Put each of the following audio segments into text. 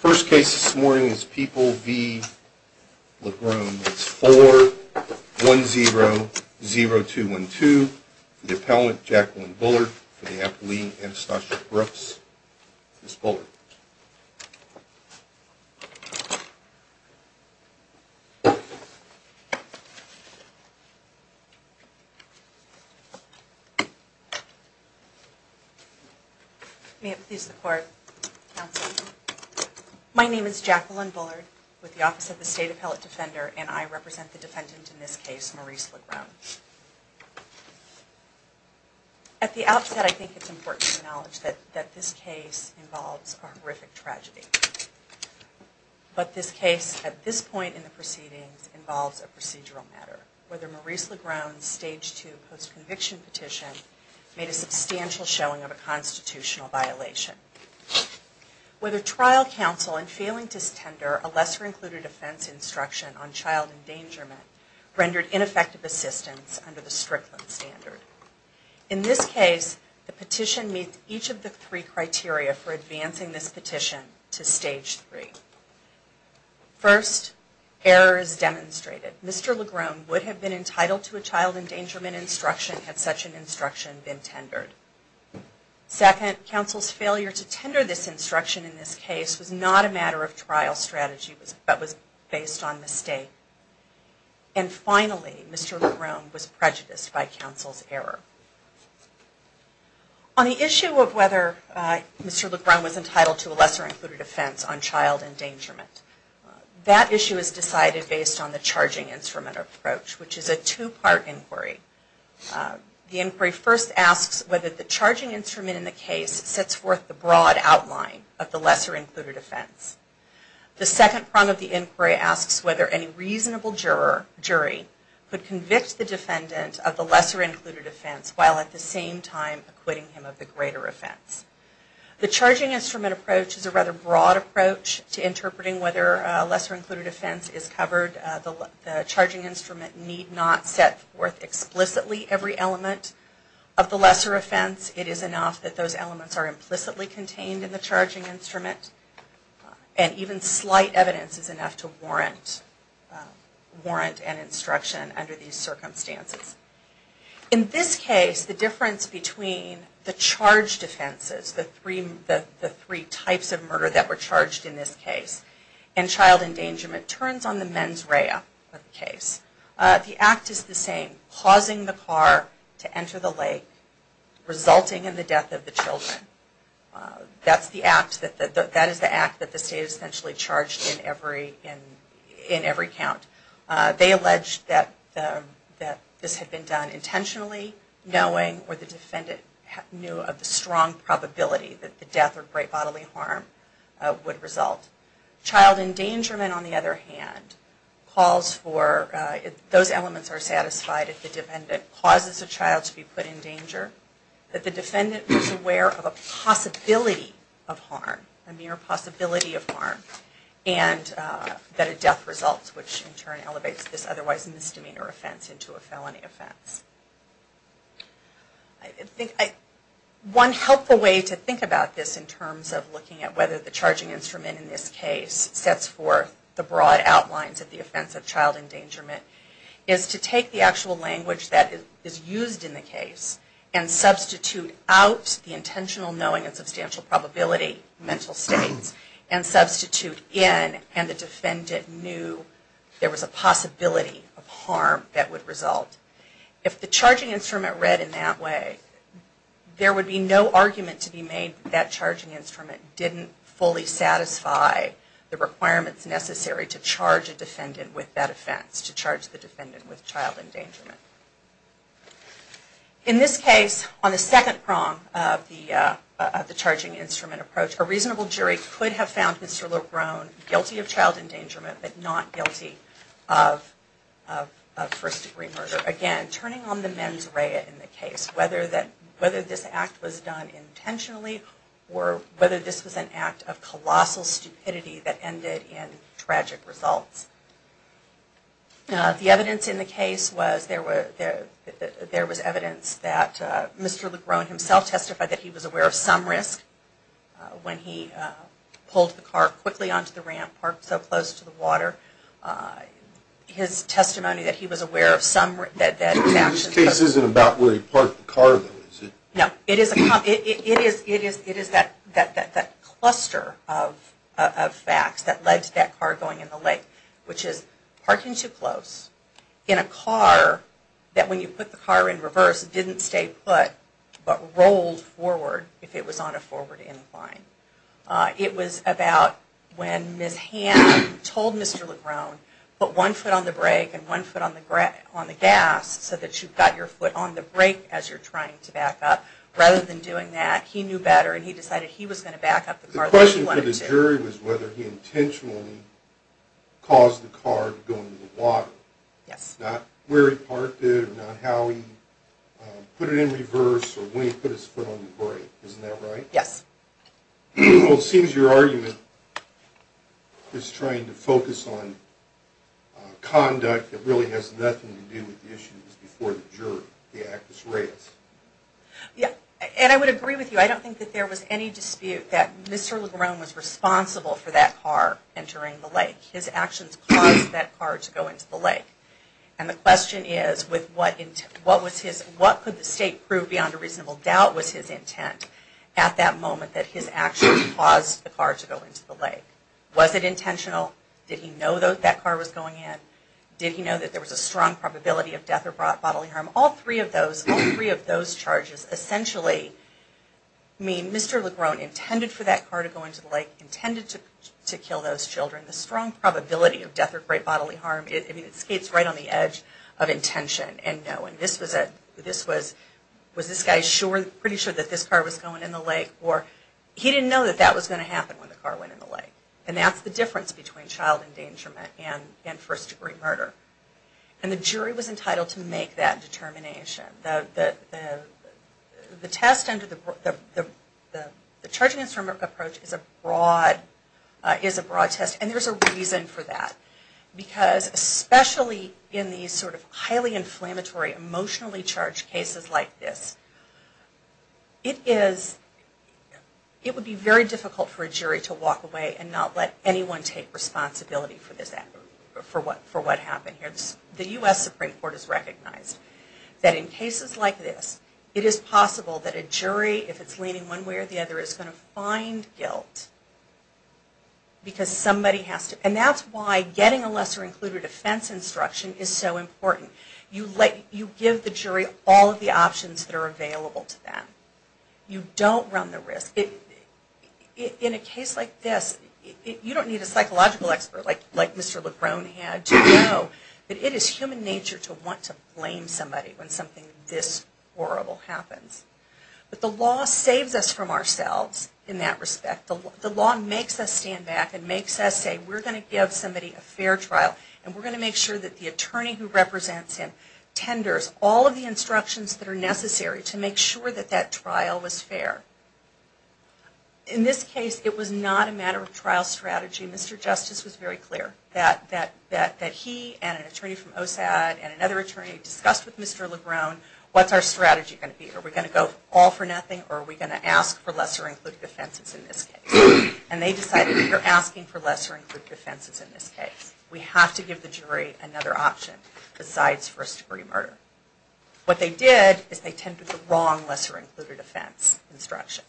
First case this morning is People v. LaGrone. It's 4-1-0-0-2-1-2. For the appellant, Jacqueline Bullard. For the appellant, Anastasia Brooks. Ms. Bullard. May it please the court, counsel. My name is Jacqueline Bullard with the Office of the State Appellate Defender and I represent the defendant in this case, Maurice LaGrone. At the outset, I think it's important to acknowledge that this case involves a horrific tragedy. But this case, at this point in the proceedings, involves a procedural matter. It's important to consider whether Maurice LaGrone's Stage 2 post-conviction petition made a substantial showing of a constitutional violation. Whether trial counsel in failing to tender a lesser-included offense instruction on child endangerment rendered ineffective assistance under the Strickland standard. In this case, the petition meets each of the three criteria for advancing this petition to Stage 3. First, error is demonstrated. Mr. LaGrone would have been entitled to a child endangerment instruction had such an instruction been tendered. Second, counsel's failure to tender this instruction in this case was not a matter of trial strategy but was based on mistake. And finally, Mr. LaGrone was prejudiced by counsel's error. On the issue of whether Mr. LaGrone was entitled to a lesser-included offense on child endangerment, that issue is decided based on the charging instrument approach, which is a two-part inquiry. The inquiry first asks whether the charging instrument in the case sets forth the broad outline of the lesser-included offense. The second prong of the inquiry asks whether any reasonable jury could convict the defendant of the lesser-included offense while at the same time acquitting him of the greater offense. The charging instrument approach is a rather broad approach to interpreting whether a lesser-included offense is covered. The charging instrument need not set forth explicitly every element of the lesser offense. It is enough that those elements are implicitly contained in the charging instrument. And even slight evidence is enough to warrant an instruction under these circumstances. In this case, the difference between the charge defenses, the three types of murder that were charged in this case, and child endangerment turns on the mens rea of the case. The act is the same, causing the car to enter the lake, resulting in the death of the children. That is the act that the state is essentially charged in every count. They allege that this had been done intentionally, knowing, or the defendant knew of the strong probability that the death or great bodily harm would result. Child endangerment, on the other hand, calls for, those elements are satisfied if the defendant causes a child to be put in danger, that the defendant was aware of a possibility of harm, a mere possibility of harm, and that a death results, which in turn elevates this otherwise misdemeanor offense into a felony offense. One helpful way to think about this in terms of looking at whether the charging instrument in this case sets forth the broad outlines of the offense of child endangerment is to take the actual language that is used in the case and substitute out the intentional knowing and substantial probability mental states and substitute in, and the defendant knew there was a possibility of harm that would result. If the charging instrument read in that way, there would be no argument to be made that that charging instrument didn't fully satisfy the requirements necessary to charge a defendant with that offense, to charge the defendant with child endangerment. In this case, on the second prong of the charging instrument approach, a reasonable jury could have found Mr. Lebron guilty of child endangerment, but not guilty of first degree murder. Again, turning on the mens rea in the case, whether this act was done intentionally, or whether this was an act of colossal stupidity that ended in tragic results. The evidence in the case was there was evidence that Mr. Lebron himself testified that he was aware of some risk when he pulled the car quickly onto the ramp, parked so close to the water. This case isn't about where he parked the car, though, is it? No, it is that cluster of facts that led to that car going in the lake, which is parking too close in a car that when you put the car in reverse didn't stay put, but rolled forward if it was on a forward incline. It was about when Ms. Hamm told Mr. Lebron, put one foot on the brake and one foot on the gas so that you've got your foot on the brake as you're trying to back up. Rather than doing that, he knew better and he decided he was going to back up the car the way he wanted to. The question for the jury was whether he intentionally caused the car to go into the water. Yes. Not where he parked it, not how he put it in reverse, or when he put his foot on the brake. Isn't that right? Yes. Well, it seems your argument is trying to focus on conduct that really has nothing to do with the issue that was before the jury. The act was raised. Yes, and I would agree with you. I don't think that there was any dispute that Mr. Lebron was responsible for that car entering the lake. His actions caused that car to go into the lake. And the question is, what could the state prove beyond a reasonable doubt was his intent at that moment that his actions caused the car to go into the lake? Was it intentional? Did he know that that car was going in? Did he know that there was a strong probability of death or bodily harm? All three of those charges essentially mean Mr. Lebron intended for that car to go into the lake, intended to kill those children. The strong probability of death or great bodily harm, it skates right on the edge of intention and knowing. This was a, this was, was this guy sure, pretty sure that this car was going in the lake? Or he didn't know that that was going to happen when the car went in the lake. And that's the difference between child endangerment and first degree murder. And the jury was entitled to make that determination. The test under the, the charging instrument approach is a broad, is a broad test. And there's a reason for that. Because especially in these sort of highly inflammatory, emotionally charged cases like this, it is, it would be very difficult for a jury to walk away and not let anyone take responsibility for this, for what, for what happened here. And it's, the U.S. Supreme Court has recognized that in cases like this, it is possible that a jury, if it's leaning one way or the other, is going to find guilt. Because somebody has to, and that's why getting a lesser included offense instruction is so important. You let, you give the jury all of the options that are available to them. You don't run the risk. In a case like this, you don't need a psychological expert like, like Mr. LeBron had to know that it is human nature to want to blame somebody when something this horrible happens. But the law saves us from ourselves in that respect. The law makes us stand back and makes us say, we're going to give somebody a fair trial. And we're going to make sure that the attorney who represents him tenders all of the instructions that are necessary to make sure that that trial was fair. In this case, it was not a matter of trial strategy. Mr. Justice was very clear that, that, that he and an attorney from OSAD and another attorney discussed with Mr. LeBron, what's our strategy going to be? Are we going to go all for nothing, or are we going to ask for lesser included offenses in this case? And they decided, we're asking for lesser included offenses in this case. We have to give the jury another option besides first degree murder. What they did is they tendered the wrong lesser included offense instruction.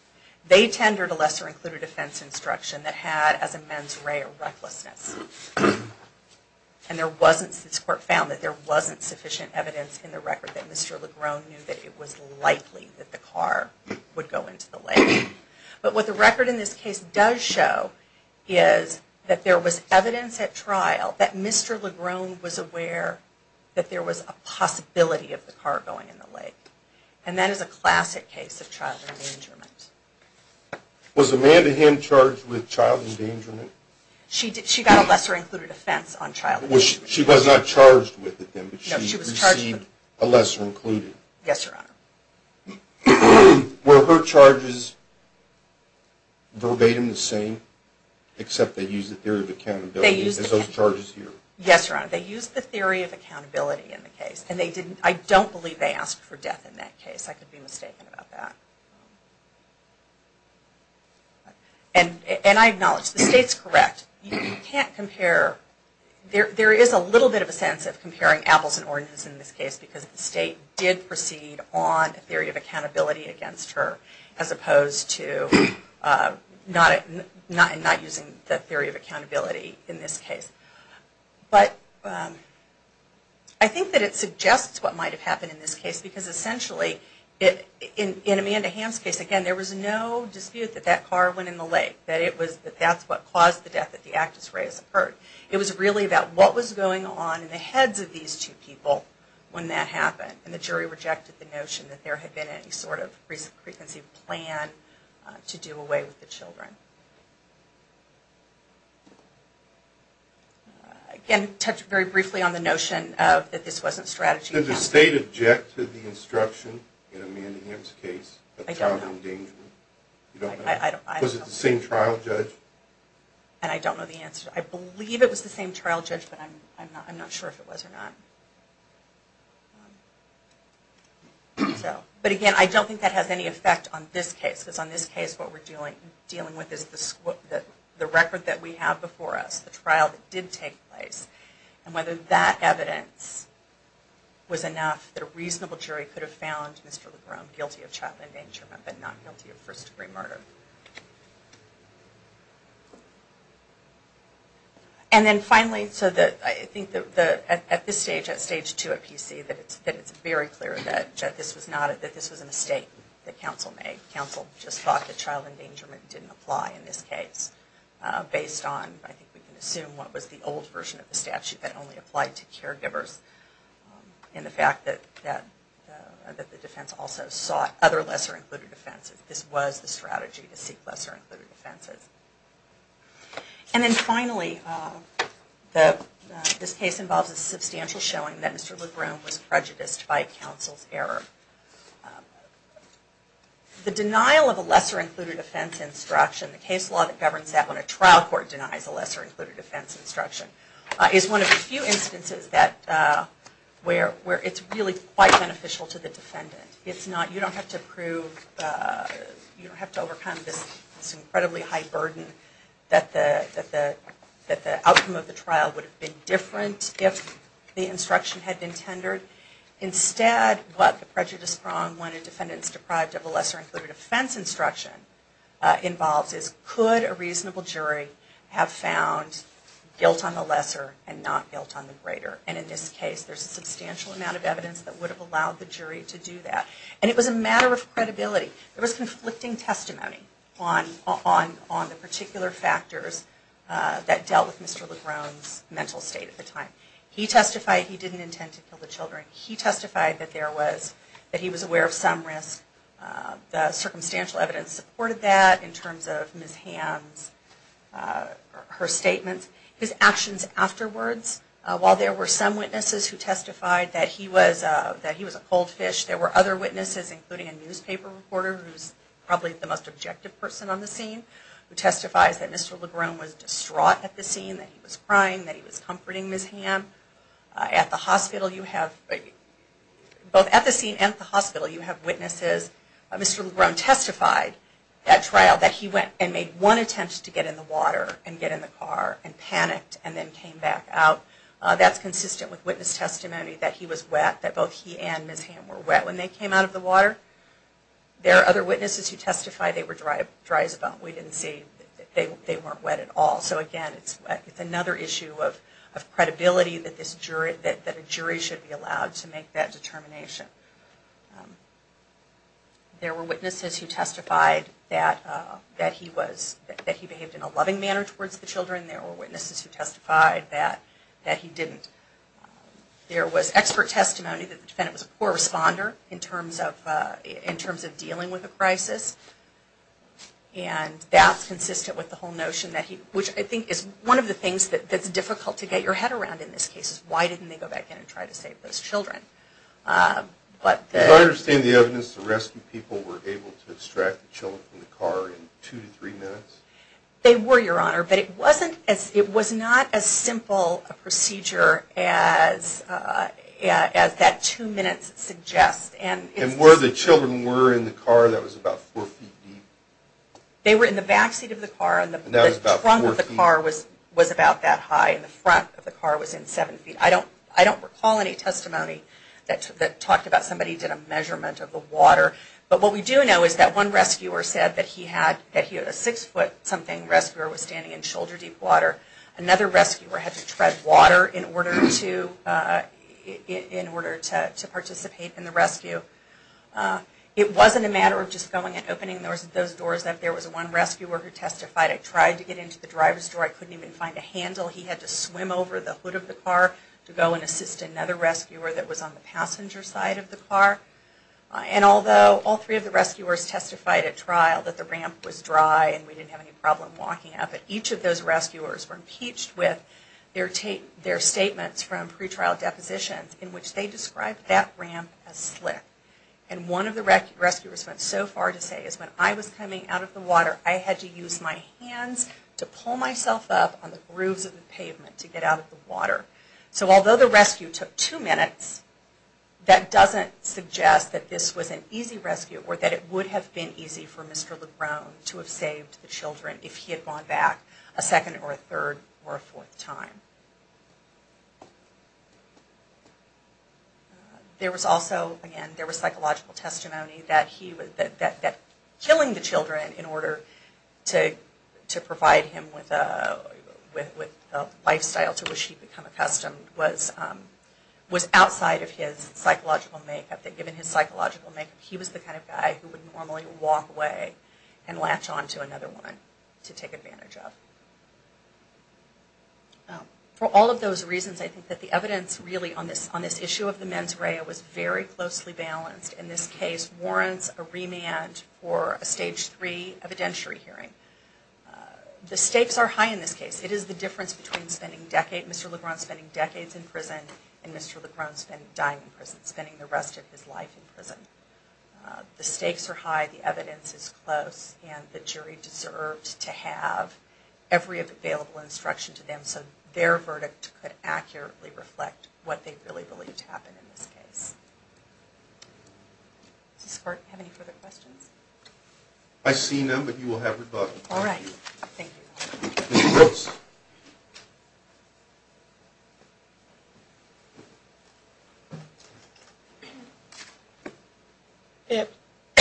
They tendered a lesser included offense instruction that had as a mens rea recklessness. And there wasn't, this court found that there wasn't sufficient evidence in the record that Mr. LeBron knew that it was likely that the car would go into the lake. But what the record in this case does show is that there was evidence at trial that Mr. LeBron was aware that there was a possibility of the car going in the lake. And that is a classic case of child endangerment. Was Amanda Hinn charged with child endangerment? She got a lesser included offense on child endangerment. She was not charged with it then, but she received a lesser included. Yes, Your Honor. Were her charges verbatim the same except they used the theory of accountability as those charges here? Yes, Your Honor. They used the theory of accountability in the case. And they didn't, I don't believe they asked for death in that case. I could be mistaken about that. And I acknowledge the state's correct. You can't compare, there is a little bit of a sense of comparing apples and oranges in this case because the state did proceed on a theory of accountability against her as opposed to not using the theory of accountability in this case. But I think that it suggests what might have happened in this case because essentially in Amanda Hinn's case, again, there was no dispute that that car went in the lake. That it was, that that's what caused the death at the Actus Reis occurred. It was really about what was going on in the heads of these two people when that happened. And the jury rejected the notion that there had been any sort of frequency plan to do away with the children. Again, touch very briefly on the notion that this wasn't strategy. Did the state object to the instruction in Amanda Hinn's case of child endangerment? I don't know. Was it the same trial, Judge? And I don't know the answer. I believe it was the same trial, Judge, but I'm not sure if it was or not. But again, I don't think that has any effect on this case because on this case what we're dealing with is the record that we have before us. The trial that did take place. And whether that evidence was enough that a reasonable jury could have found Mr. LeBron guilty of child endangerment but not guilty of first degree murder. And then finally, so that I think that at this stage, at stage two at PC, that it's very clear that this was not, that this was a mistake that counsel made. Counsel just thought that child endangerment didn't apply in this case. Based on, I think we can assume, what was the old version of the statute that only applied to caregivers. And the fact that the defense also sought other lesser-included offenses. This was the strategy to seek lesser-included offenses. And then finally, this case involves a substantial showing that Mr. LeBron was prejudiced by counsel's error. The denial of a lesser-included offense instruction, the case law that governs that when a trial court denies a lesser-included offense instruction, is one of the few instances that, where it's really quite beneficial to the defendant. It's not, you don't have to prove, you don't have to overcome this incredibly high burden that the outcome of the trial would have been different if the instruction had been tendered. Instead, what the prejudice prong when a defendant is deprived of a lesser-included offense instruction involves is, could a reasonable jury have found guilt on the lesser and not guilt on the greater? And in this case, there's a substantial amount of evidence that would have allowed the jury to do that. And it was a matter of credibility. There was conflicting testimony on the particular factors that dealt with Mr. LeBron's mental state at the time. He testified he didn't intend to kill the children. He testified that there was, that he was aware of some risk. The circumstantial evidence supported that in terms of Ms. Hamm's, her statements. His actions afterwards, while there were some witnesses who testified that he was a cold fish, there were other witnesses, including a newspaper reporter who's probably the most objective person on the scene, who testifies that Mr. LeBron was distraught at the scene, that he was crying, that he was comforting Ms. Hamm. At the hospital, you have, both at the scene and at the hospital, you have witnesses. Mr. LeBron testified at trial that he went and made one attempt to get in the water and get in the car, and panicked and then came back out. That's consistent with witness testimony, that he was wet, that both he and Ms. Hamm were wet when they came out of the water. There are other witnesses who testified they were dry as a bone. We didn't see that they weren't wet at all. So again, it's another issue of credibility that a jury should be allowed to make that determination. There were witnesses who testified that he behaved in a loving manner towards the children. There were witnesses who testified that he didn't. There was expert testimony that the defendant was a poor responder in terms of dealing with the crisis. And that's consistent with the whole notion that he, which I think is one of the things that's difficult to get your head around in this case, is why didn't they go back in and try to save those children? Do I understand the evidence the rescue people were able to extract the children from the car in two to three minutes? They were, Your Honor, but it wasn't as, it was not as simple a procedure as that two minutes suggests. And were the children were in the car that was about four feet deep? They were in the back seat of the car. And that was about four feet. The trunk of the car was about that high and the front of the car was in seven feet. I don't recall any testimony that talked about somebody did a measurement of the water. But what we do know is that one rescuer said that he had a six foot something rescuer was standing in shoulder deep water. Another rescuer had to tread water in order to participate in the rescue. It wasn't a matter of just going and opening those doors. There was one rescuer who testified, I tried to get into the driver's door. I couldn't even find a handle. He had to swim over the hood of the car to go and assist another rescuer that was on the passenger side of the car. And although all three of the rescuers testified at trial that the ramp was dry and we didn't have any problem walking up, but each of those rescuers were impeached with their statements from pretrial depositions in which they described that ramp as slick. And one of the rescuers went so far to say is when I was coming out of the water, I had to use my hands to pull myself up on the grooves of the pavement to get out of the water. So although the rescue took two minutes, that doesn't suggest that this was an easy rescue or that it would have been easy for Mr. LeBron to have saved the children if he had gone back a second or a third or a fourth time. There was also, again, there was psychological testimony that killing the children in order to provide him with a lifestyle to which he had become accustomed was outside of his psychological makeup, that given his psychological makeup, he was the kind of guy who would normally walk away and latch on to another woman to take advantage of. For all of those reasons, I think that the evidence really on this issue of the mens rea was very closely balanced. And this case warrants a remand for a Stage 3 evidentiary hearing. The stakes are high in this case. It is the difference between Mr. LeBron spending decades in prison and Mr. LeBron dying in prison, spending the rest of his life in prison. The stakes are high, the evidence is close, and the jury deserved to have every available instruction to them so their verdict could accurately reflect what they really believed happened in this case. Does this court have any further questions? I see none, but you will have rebuttal. All right. Thank you. Ms. Brooks.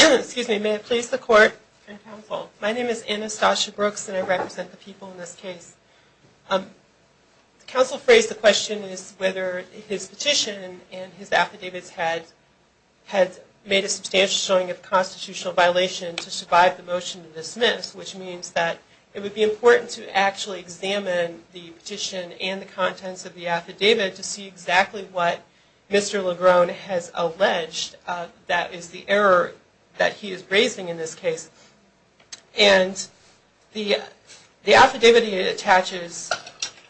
Excuse me. May it please the court and counsel. My name is Anastasia Brooks, and I represent the people in this case. Counsel phrased the question as whether his petition and his affidavits had made a substantial showing of constitutional violation to survive the motion to dismiss, which means that it would be important to actually examine the petition and the contents of the affidavit to see exactly what Mr. LeBron has alleged that is the error that he is raising in this case. And the affidavit he attaches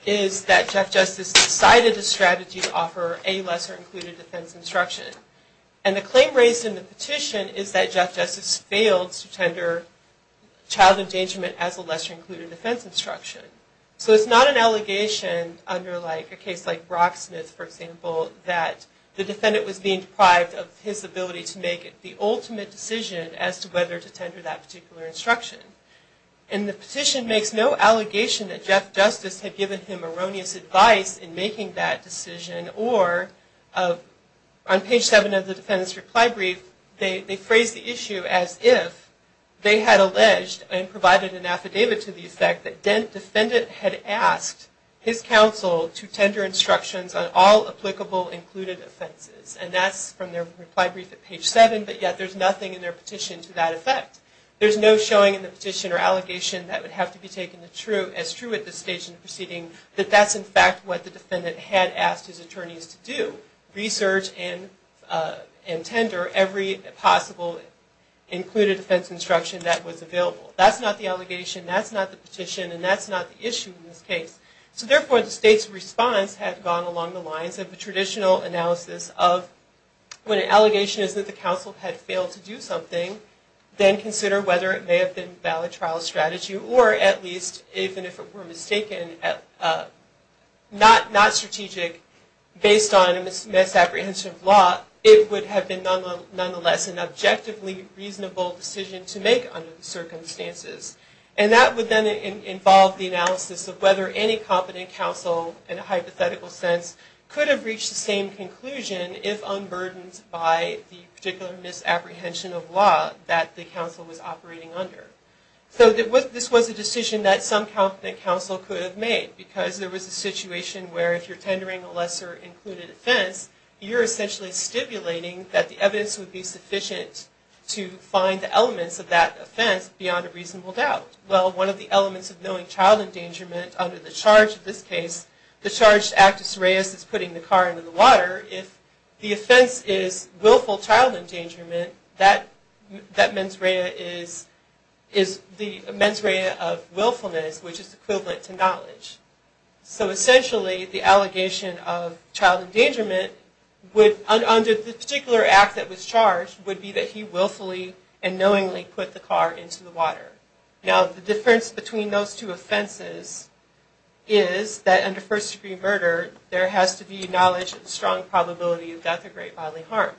is that Jeff Justice decided the strategy to offer a lesser included defense instruction. And the claim raised in the petition is that Jeff Justice failed to tender child endangerment as a lesser included defense instruction. So it's not an allegation under a case like Rocksmith, for example, that the defendant was being deprived of his ability to make the ultimate decision as to whether to tender that particular instruction. And the petition makes no allegation that Jeff Justice had given him erroneous advice in making that decision or on page 7 of the defendant's reply brief, they phrased the issue as if they had alleged and provided an affidavit to the effect that the defendant had asked his counsel to tender instructions on all applicable included offenses. And that's from their reply brief at page 7, but yet there's nothing in their petition to that effect. There's no showing in the petition or allegation that would have to be taken as true at this stage in the proceeding that that's in fact what the defendant had asked his attorneys to do, research and tender every possible included defense instruction that was available. That's not the allegation, that's not the petition, and that's not the issue in this case. So therefore the state's response had gone along the lines of the traditional analysis of when an allegation is that the counsel had failed to do something, then consider whether it may have been valid trial strategy or at least, even if it were mistaken, not strategic based on a misapprehension of law, it would have been nonetheless an objectively reasonable decision to make under the circumstances. And that would then involve the analysis of whether any competent counsel in a hypothetical sense could have reached the same conclusion if found burdened by the particular misapprehension of law that the counsel was operating under. So this was a decision that some competent counsel could have made because there was a situation where if you're tendering a lesser included offense, you're essentially stipulating that the evidence would be sufficient to find the elements of that offense beyond a reasonable doubt. Well, one of the elements of knowing child endangerment under the charge of this case, the charged actus reus is putting the car into the water. If the offense is willful child endangerment, that mens rea is the mens rea of willfulness, which is equivalent to knowledge. So essentially the allegation of child endangerment under the particular act that was charged would be that he willfully and knowingly put the car into the water. Now the difference between those two offenses is that under first degree murder, there has to be knowledge and strong probability of death or great bodily harm.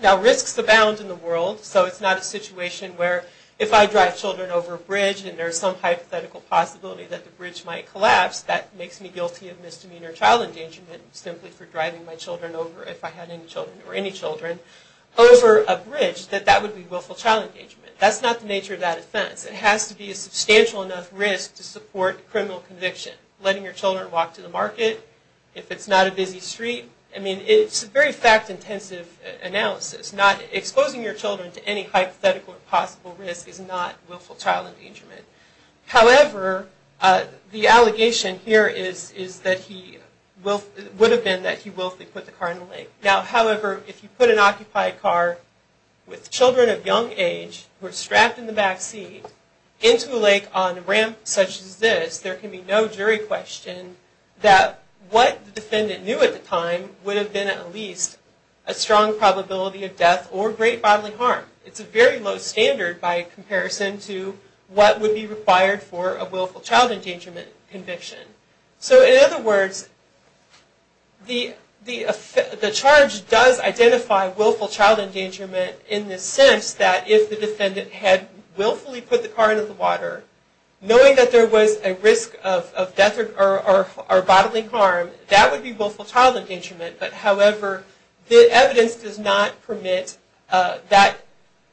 Now risks abound in the world, so it's not a situation where if I drive children over a bridge and there's some hypothetical possibility that the bridge might collapse, that makes me guilty of misdemeanor child endangerment simply for driving my children over, if I had any children or any children, over a bridge, that that would be willful child endangerment. That's not the nature of that offense. It has to be a substantial enough risk to support criminal conviction. Letting your children walk to the market, if it's not a busy street. I mean, it's a very fact-intensive analysis. Exposing your children to any hypothetical or possible risk is not willful child endangerment. However, the allegation here is that he would have been that he willfully put the car in the lake. Now, however, if you put an occupied car with children of young age who are strapped in the back seat into a lake on a ramp such as this, there can be no jury question that what the defendant knew at the time would have been at least a strong probability of death or great bodily harm. It's a very low standard by comparison to what would be required for a willful child endangerment conviction. So, in other words, the charge does identify willful child endangerment in the sense that if the defendant had willfully put the car into the water, knowing that there was a risk of death or bodily harm, that would be willful child endangerment. However, the evidence does not permit that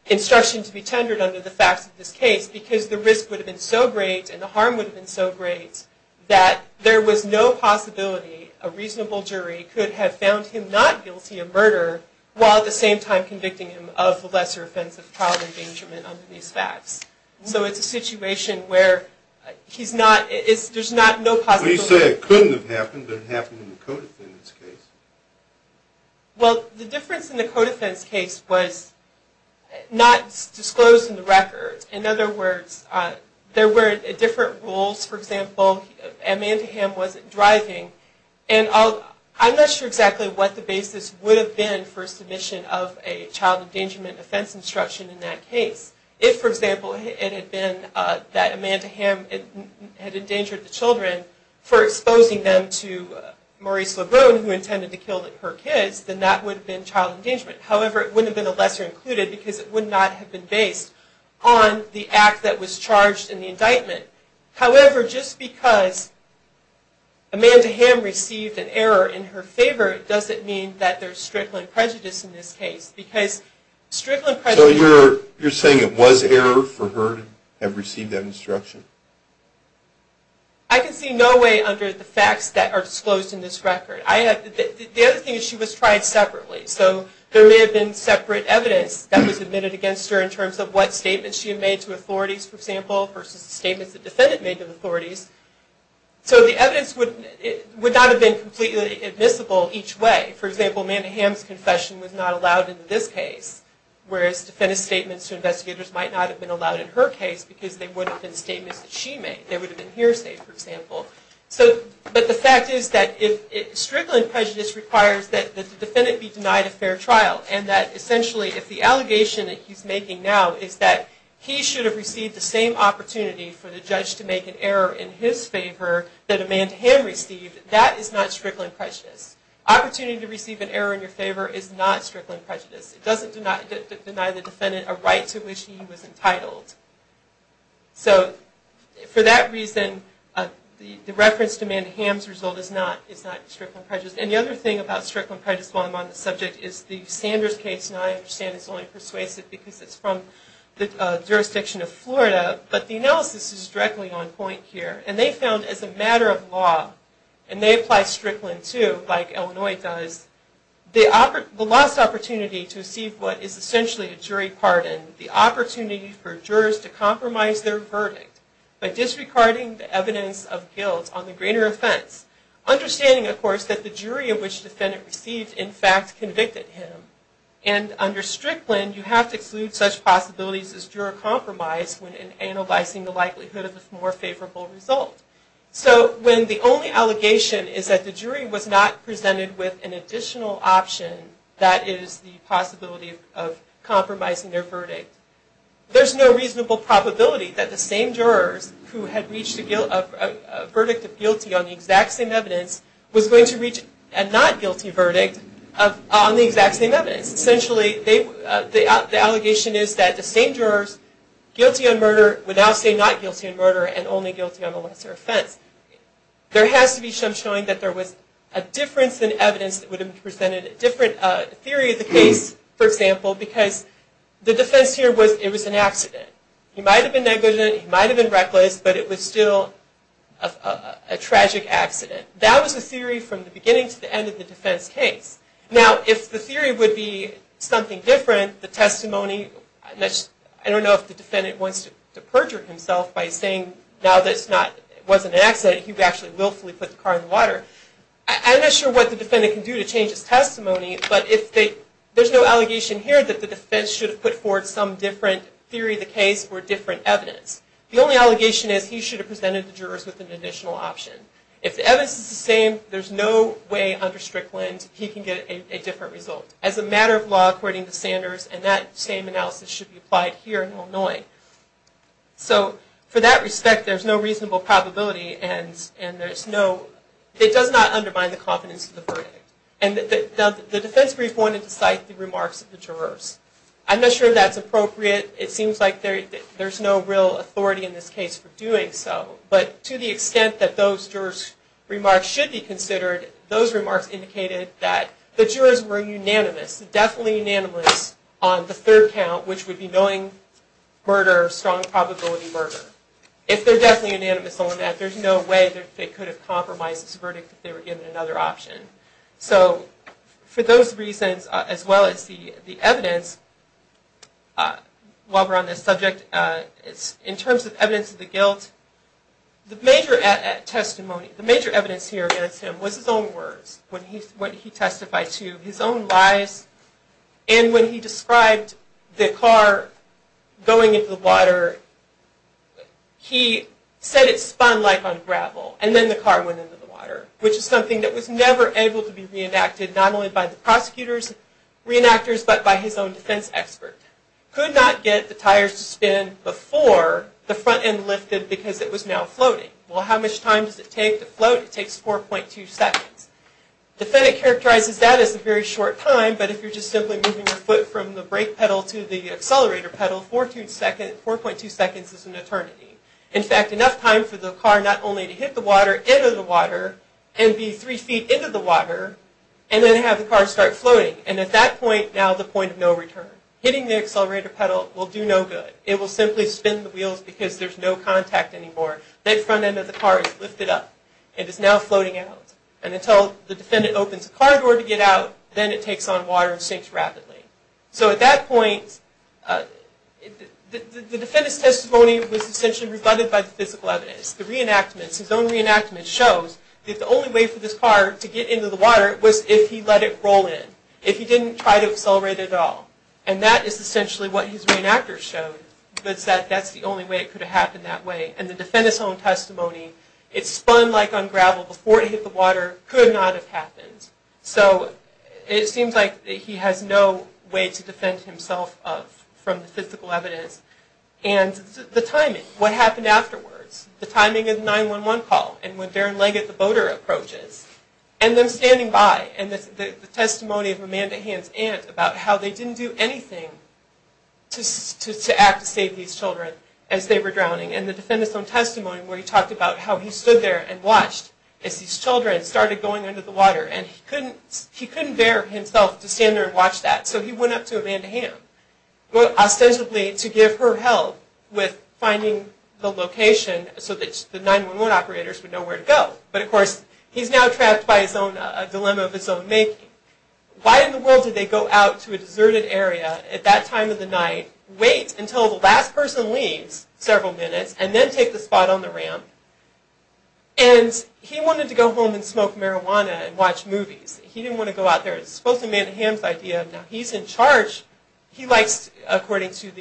instruction to be tendered under the facts of this case because the risk would have been so great and the harm would have been so great that there was no possibility a reasonable jury could have found him not guilty of murder while at the same time convicting him of lesser offense of child endangerment under these facts. So it's a situation where there's not no possibility. Well, you say it couldn't have happened, but it happened in the co-defendant's case. Well, the difference in the co-defense case was not disclosed in the record. In other words, there were different rules. For example, Amanda Hamm wasn't driving. And I'm not sure exactly what the basis would have been for submission of a child endangerment offense instruction in that case. If, for example, it had been that Amanda Hamm had endangered the children for exposing them to Maurice LeBrun, who intended to kill her kids, then that would have been child endangerment. However, it wouldn't have been a lesser included because it would not have been based on the act that was charged in the indictment. However, just because Amanda Hamm received an error in her favor doesn't mean that there's strickland prejudice in this case. So you're saying it was error for her to have received that instruction? I can see no way under the facts that are disclosed in this record. The other thing is she was tried separately. So there may have been separate evidence that was admitted against her in terms of what statements she had made to authorities, for example, versus the statements the defendant made to authorities. So the evidence would not have been completely admissible each way. For example, Amanda Hamm's confession was not allowed in this case, whereas defendant's statements to investigators might not have been allowed in her case because they would have been statements that she made. They would have been hearsay, for example. But the fact is that strickland prejudice requires that the defendant be denied a fair trial and that essentially if the allegation that he's making now is that he should have received the same opportunity for the judge to make an error in his favor that Amanda Hamm received, that is not strickland prejudice. Opportunity to receive an error in your favor is not strickland prejudice. It doesn't deny the defendant a right to which he was entitled. So for that reason, the reference to Amanda Hamm's result is not strickland prejudice. And the other thing about strickland prejudice while I'm on the subject is the Sanders case, and I understand it's only persuasive because it's from the jurisdiction of Florida, but the analysis is directly on point here. And they found as a matter of law, and they apply strickland too, like Illinois does, the lost opportunity to receive what is essentially a jury pardon, the opportunity for jurors to compromise their verdict by disregarding the evidence of guilt on the greater offense. Understanding, of course, that the jury of which defendant received in fact convicted him. And under strickland, you have to exclude such possibilities as juror compromise when analyzing the likelihood of a more favorable result. So when the only allegation is that the jury was not presented with an additional option, that is the possibility of compromising their verdict. There's no reasonable probability that the same jurors who had reached a verdict of guilty on the exact same evidence was going to reach a not guilty verdict on the exact same evidence. The allegation is that the same jurors guilty on murder would now say not guilty on murder and only guilty on the lesser offense. There has to be some showing that there was a difference in evidence that would have presented a different theory of the case, for example, because the defense here was it was an accident. He might have been negligent, he might have been reckless, but it was still a tragic accident. That was the theory from the beginning to the end of the defense case. Now, if the theory would be something different, the testimony, I don't know if the defendant wants to perjure himself by saying now that it wasn't an accident, he actually willfully put the car in the water. I'm not sure what the defendant can do to change his testimony, but there's no allegation here that the defense should have put forward some different theory of the case or different evidence. The only allegation is he should have presented the jurors with an additional option. If the evidence is the same, there's no way under Strickland he can get a different result. As a matter of law, according to Sanders, and that same analysis should be applied here in Illinois. So for that respect, there's no reasonable probability and there's no, it does not undermine the confidence of the verdict. And the defense brief wanted to cite the remarks of the jurors. I'm not sure that's appropriate. It seems like there's no real authority in this case for doing so, but to the extent that those jurors' remarks should be considered, those remarks indicated that the jurors were unanimous, definitely unanimous on the third count, which would be knowing murder, strong probability murder. If they're definitely unanimous on that, there's no way they could have compromised this verdict if they were given another option. So for those reasons, as well as the evidence, while we're on this subject, in terms of evidence of the guilt, the major testimony, the major evidence here against him was his own words, what he testified to, his own lies. And when he described the car going into the water, he said it spun like on gravel, and then the car went into the water, which is something that was never able to be reenacted, not only by the prosecutors, reenactors, but by his own defense expert. Could not get the tires to spin before the front end lifted because it was now floating. Well, how much time does it take to float? It takes 4.2 seconds. The defendant characterizes that as a very short time, but if you're just simply moving your foot from the brake pedal to the accelerator pedal, 4.2 seconds is an eternity. In fact, enough time for the car not only to hit the water, enter the water, and be three feet into the water, and then have the car start floating. And at that point, now the point of no return. Hitting the accelerator pedal will do no good. It will simply spin the wheels because there's no contact anymore. That front end of the car is lifted up. It is now floating out. And until the defendant opens the car door to get out, then it takes on water and sinks rapidly. So at that point, the defendant's testimony was essentially rebutted by the physical evidence. The reenactments, his own reenactments, shows that the only way for this car to get into the water was if he let it roll in, if he didn't try to accelerate at all. And that is essentially what his reenactors showed. They said that's the only way it could have happened that way. And the defendant's own testimony, it spun like on gravel before it hit the water, could not have happened. So it seems like he has no way to defend himself from the physical evidence. And the timing, what happened afterwards. The timing of the 911 call and when Darren Leggett, the boater, approaches. And them standing by and the testimony of Amanda Hamm's aunt about how they didn't do anything to act to save these children as they were drowning. And the defendant's own testimony where he talked about how he stood there and watched as these children started going under the water. And he couldn't bear himself to stand there and watch that. So he went up to Amanda Hamm, ostensibly to give her help with finding the location so that the 911 operators would know where to go. But of course, he's now trapped by a dilemma of his own making. Why in the world did they go out to a deserted area at that time of the night, wait until the last person leaves, several minutes, and then take the spot on the ramp? And he wanted to go home and smoke marijuana and watch movies. He didn't want to go out there. It was supposed to be Amanda Hamm's idea. Now he's in charge. He likes, according to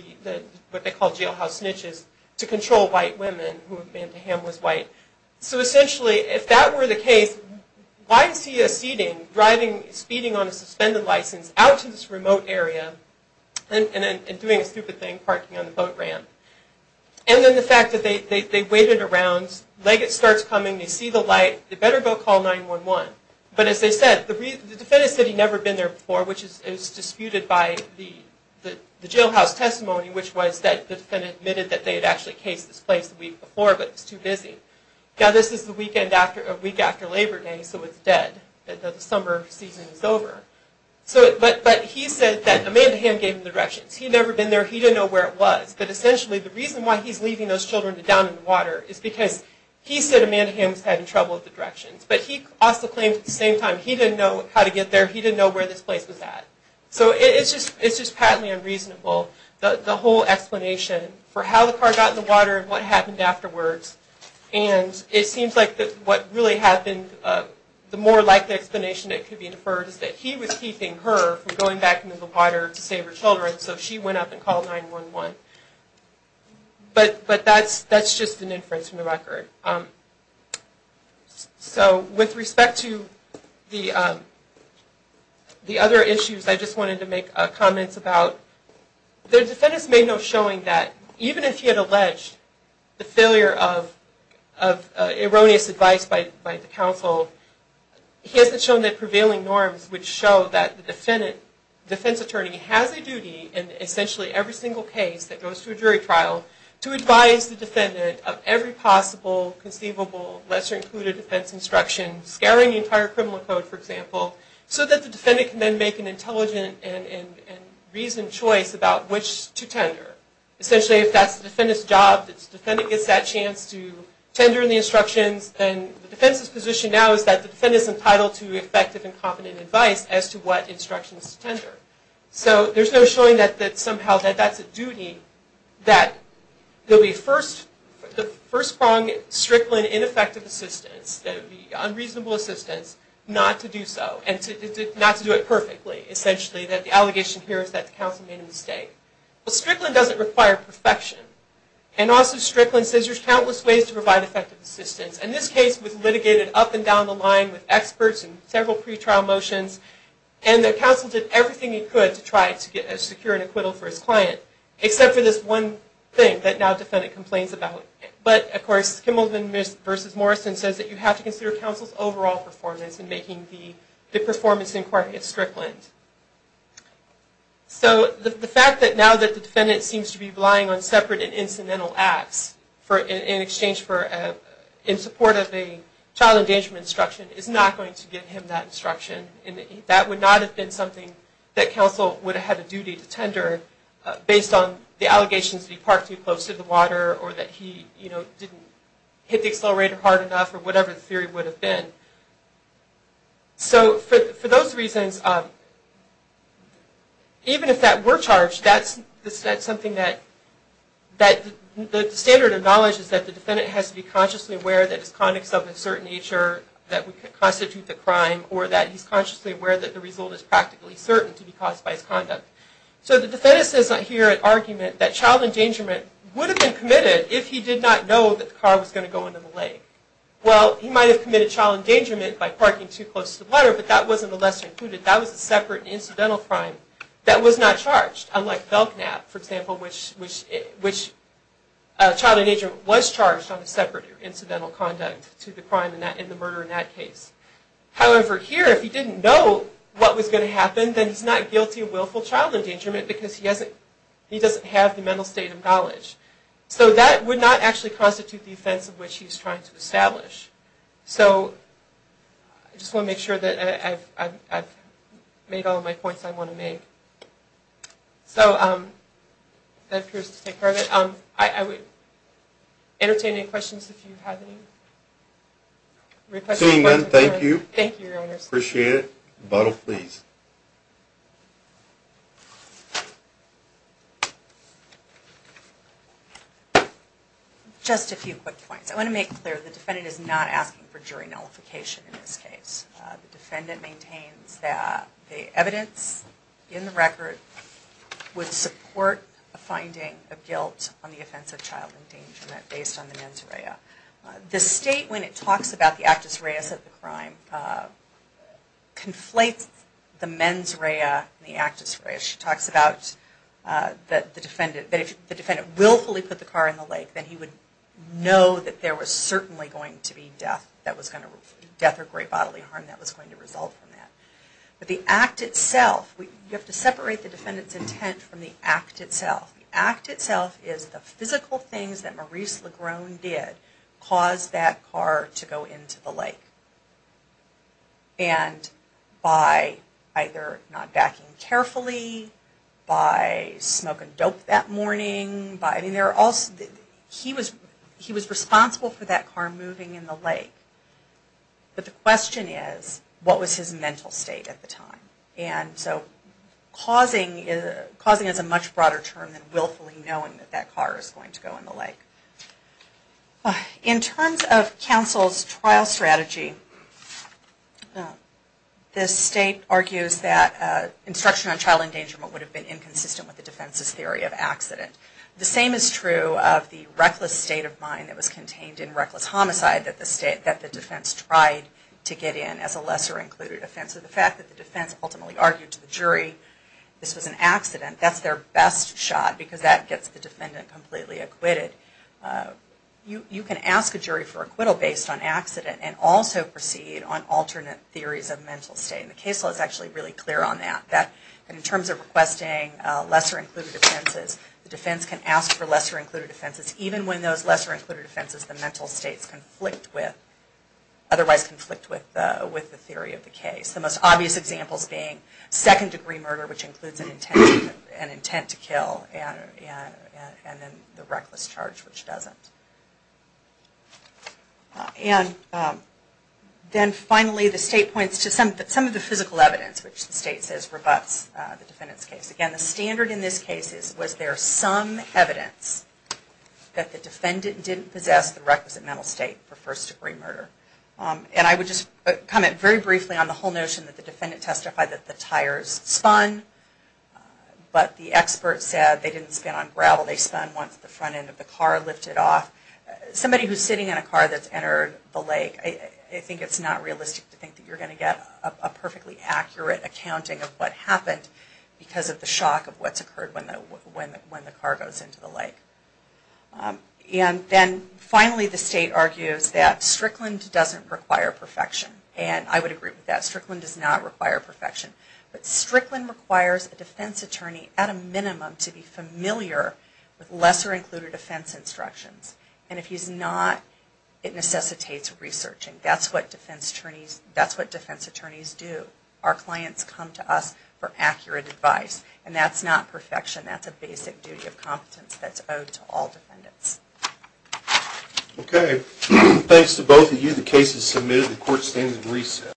what they call jailhouse snitches, to control white women. Who Amanda Hamm was white. So essentially, if that were the case, why is he acceding, speeding on a suspended license, out to this remote area and doing a stupid thing, parking on the boat ramp? And then the fact that they waited around. Legate starts coming. They see the light. They better go call 911. But as they said, the defendant said he'd never been there before, which is disputed by the jailhouse testimony, which was that the defendant admitted that they had actually cased this place the week before, but it was too busy. Now this is the week after Labor Day, so it's dead. The summer season is over. But he said that Amanda Hamm gave him the directions. He'd never been there. He didn't know where it was. But essentially, the reason why he's leaving those children down in the water is because he said Amanda Hamm was having trouble with the directions. But he also claimed at the same time he didn't know how to get there. He didn't know where this place was at. So it's just patently unreasonable. The whole explanation for how the car got in the water and what happened afterwards, and it seems like what really happened, the more likely explanation that could be inferred is that he was keeping her from going back into the water to save her children, so she went up and called 911. But that's just an inference from the record. So with respect to the other issues, I just wanted to make comments about, the defendants may know showing that even if he had alleged the failure of erroneous advice by the counsel, he hasn't shown that prevailing norms would show that the defense attorney has a duty in essentially every single case that goes to a jury trial to advise the defendant of every possible conceivable, lesser-included defense instruction, scaring the entire criminal code, for example, so that the defendant can then make an intelligent and reasoned choice about which to tender. Essentially, if that's the defendant's job, if the defendant gets that chance to tender in the instructions, then the defense's position now is that the defendant is entitled So there's no showing that somehow that that's a duty, that the first pronged Strickland ineffective assistance, unreasonable assistance, not to do so, and not to do it perfectly, essentially, that the allegation here is that the counsel made a mistake. Well, Strickland doesn't require perfection. And also, Strickland says there's countless ways to provide effective assistance. In this case, it was litigated up and down the line with experts and several pretrial motions, and the counsel did everything he could to try to secure an acquittal for his client, except for this one thing that now the defendant complains about. But, of course, Kimmelman v. Morrison says that you have to consider counsel's overall performance in making the performance inquiry at Strickland. So the fact that now that the defendant seems to be relying on separate and incidental acts in exchange for, in support of a child endangerment instruction is not going to give him that instruction and that would not have been something that counsel would have had a duty to tender based on the allegations that he parked too close to the water or that he didn't hit the accelerator hard enough or whatever the theory would have been. So for those reasons, even if that were charged, that's something that the standard of knowledge is that the defendant has to be consciously aware that his conduct is of a certain nature, that would constitute the crime, or that he's consciously aware that the result is practically certain to be caused by his conduct. So the defendant says here at argument that child endangerment would have been committed if he did not know that the car was going to go into the lake. Well, he might have committed child endangerment by parking too close to the water, but that wasn't the lesson included. That was a separate and incidental crime that was not charged, unlike Belknap, for example, which child endangerment was charged on a separate incidental conduct to the crime and the murder in that case. However, here, if he didn't know what was going to happen, then he's not guilty of willful child endangerment because he doesn't have the mental state of knowledge. So that would not actually constitute the offense of which he's trying to establish. So I just want to make sure that I've made all of my points I want to make. So that appears to take care of it. I would entertain any questions if you have any. Seeing none, thank you. Thank you, Your Honors. Appreciate it. The bottle, please. Just a few quick points. I want to make clear the defendant is not asking for jury nullification in this case. The defendant maintains that the evidence in the record would support a finding of guilt on the offense of child endangerment based on the mens rea. The state, when it talks about the actus reus of the crime, conflates the mens rea and the actus reus. She talks about that if the defendant willfully put the car in the lake, then he would know that there was certainly going to be death or great bodily harm that was going to result from that. But the act itself, you have to separate the defendant's intent from the act itself. The act itself is the physical things that Maurice Legrone did caused that car to go into the lake. And by either not backing carefully, by smoking dope that morning, he was responsible for that car moving in the lake. But the question is, what was his mental state at the time? And so causing is a much broader term than willfully knowing that that car is going to go in the lake. In terms of counsel's trial strategy, the state argues that instruction on child endangerment would have been inconsistent with the defense's theory of accident. The same is true of the reckless state of mind that was contained in reckless homicide that the defense tried to get in as a lesser included offense. So the fact that the defense ultimately argued to the jury this was an accident, that's their best shot because that gets the defendant completely acquitted. You can ask a jury for acquittal based on accident and also proceed on alternate theories of mental state. And the case law is actually really clear on that. In terms of requesting lesser included offenses, the defense can ask for lesser included offenses even when those lesser included offenses the mental states conflict with, otherwise conflict with the theory of the case. The most obvious examples being second degree murder, which includes an intent to kill and then the reckless charge, which doesn't. And then finally the state points to some of the physical evidence which the state says rebuts the defendant's case. Again, the standard in this case was there some evidence that the defendant didn't possess the requisite mental state for first degree murder. And I would just comment very briefly on the whole notion that the defendant testified that the tires spun, but the expert said they didn't spin on gravel, they spun once the front end of the car lifted off. Somebody who's sitting in a car that's entered the lake, I think it's not realistic to think that you're going to get a perfectly accurate accounting of what happened because of the shock of what's occurred when the car goes into the lake. And then finally the state argues that Strickland doesn't require perfection. And I would agree with that. Strickland does not require perfection. But Strickland requires a defense attorney at a minimum to be familiar with lesser included defense instructions. And if he's not, it necessitates researching. That's what defense attorneys do. Our clients come to us for accurate advice. And that's not perfection, that's a basic duty of competence that's owed to all defendants. Okay, thanks to both of you. The case is submitted. The court stands in recess.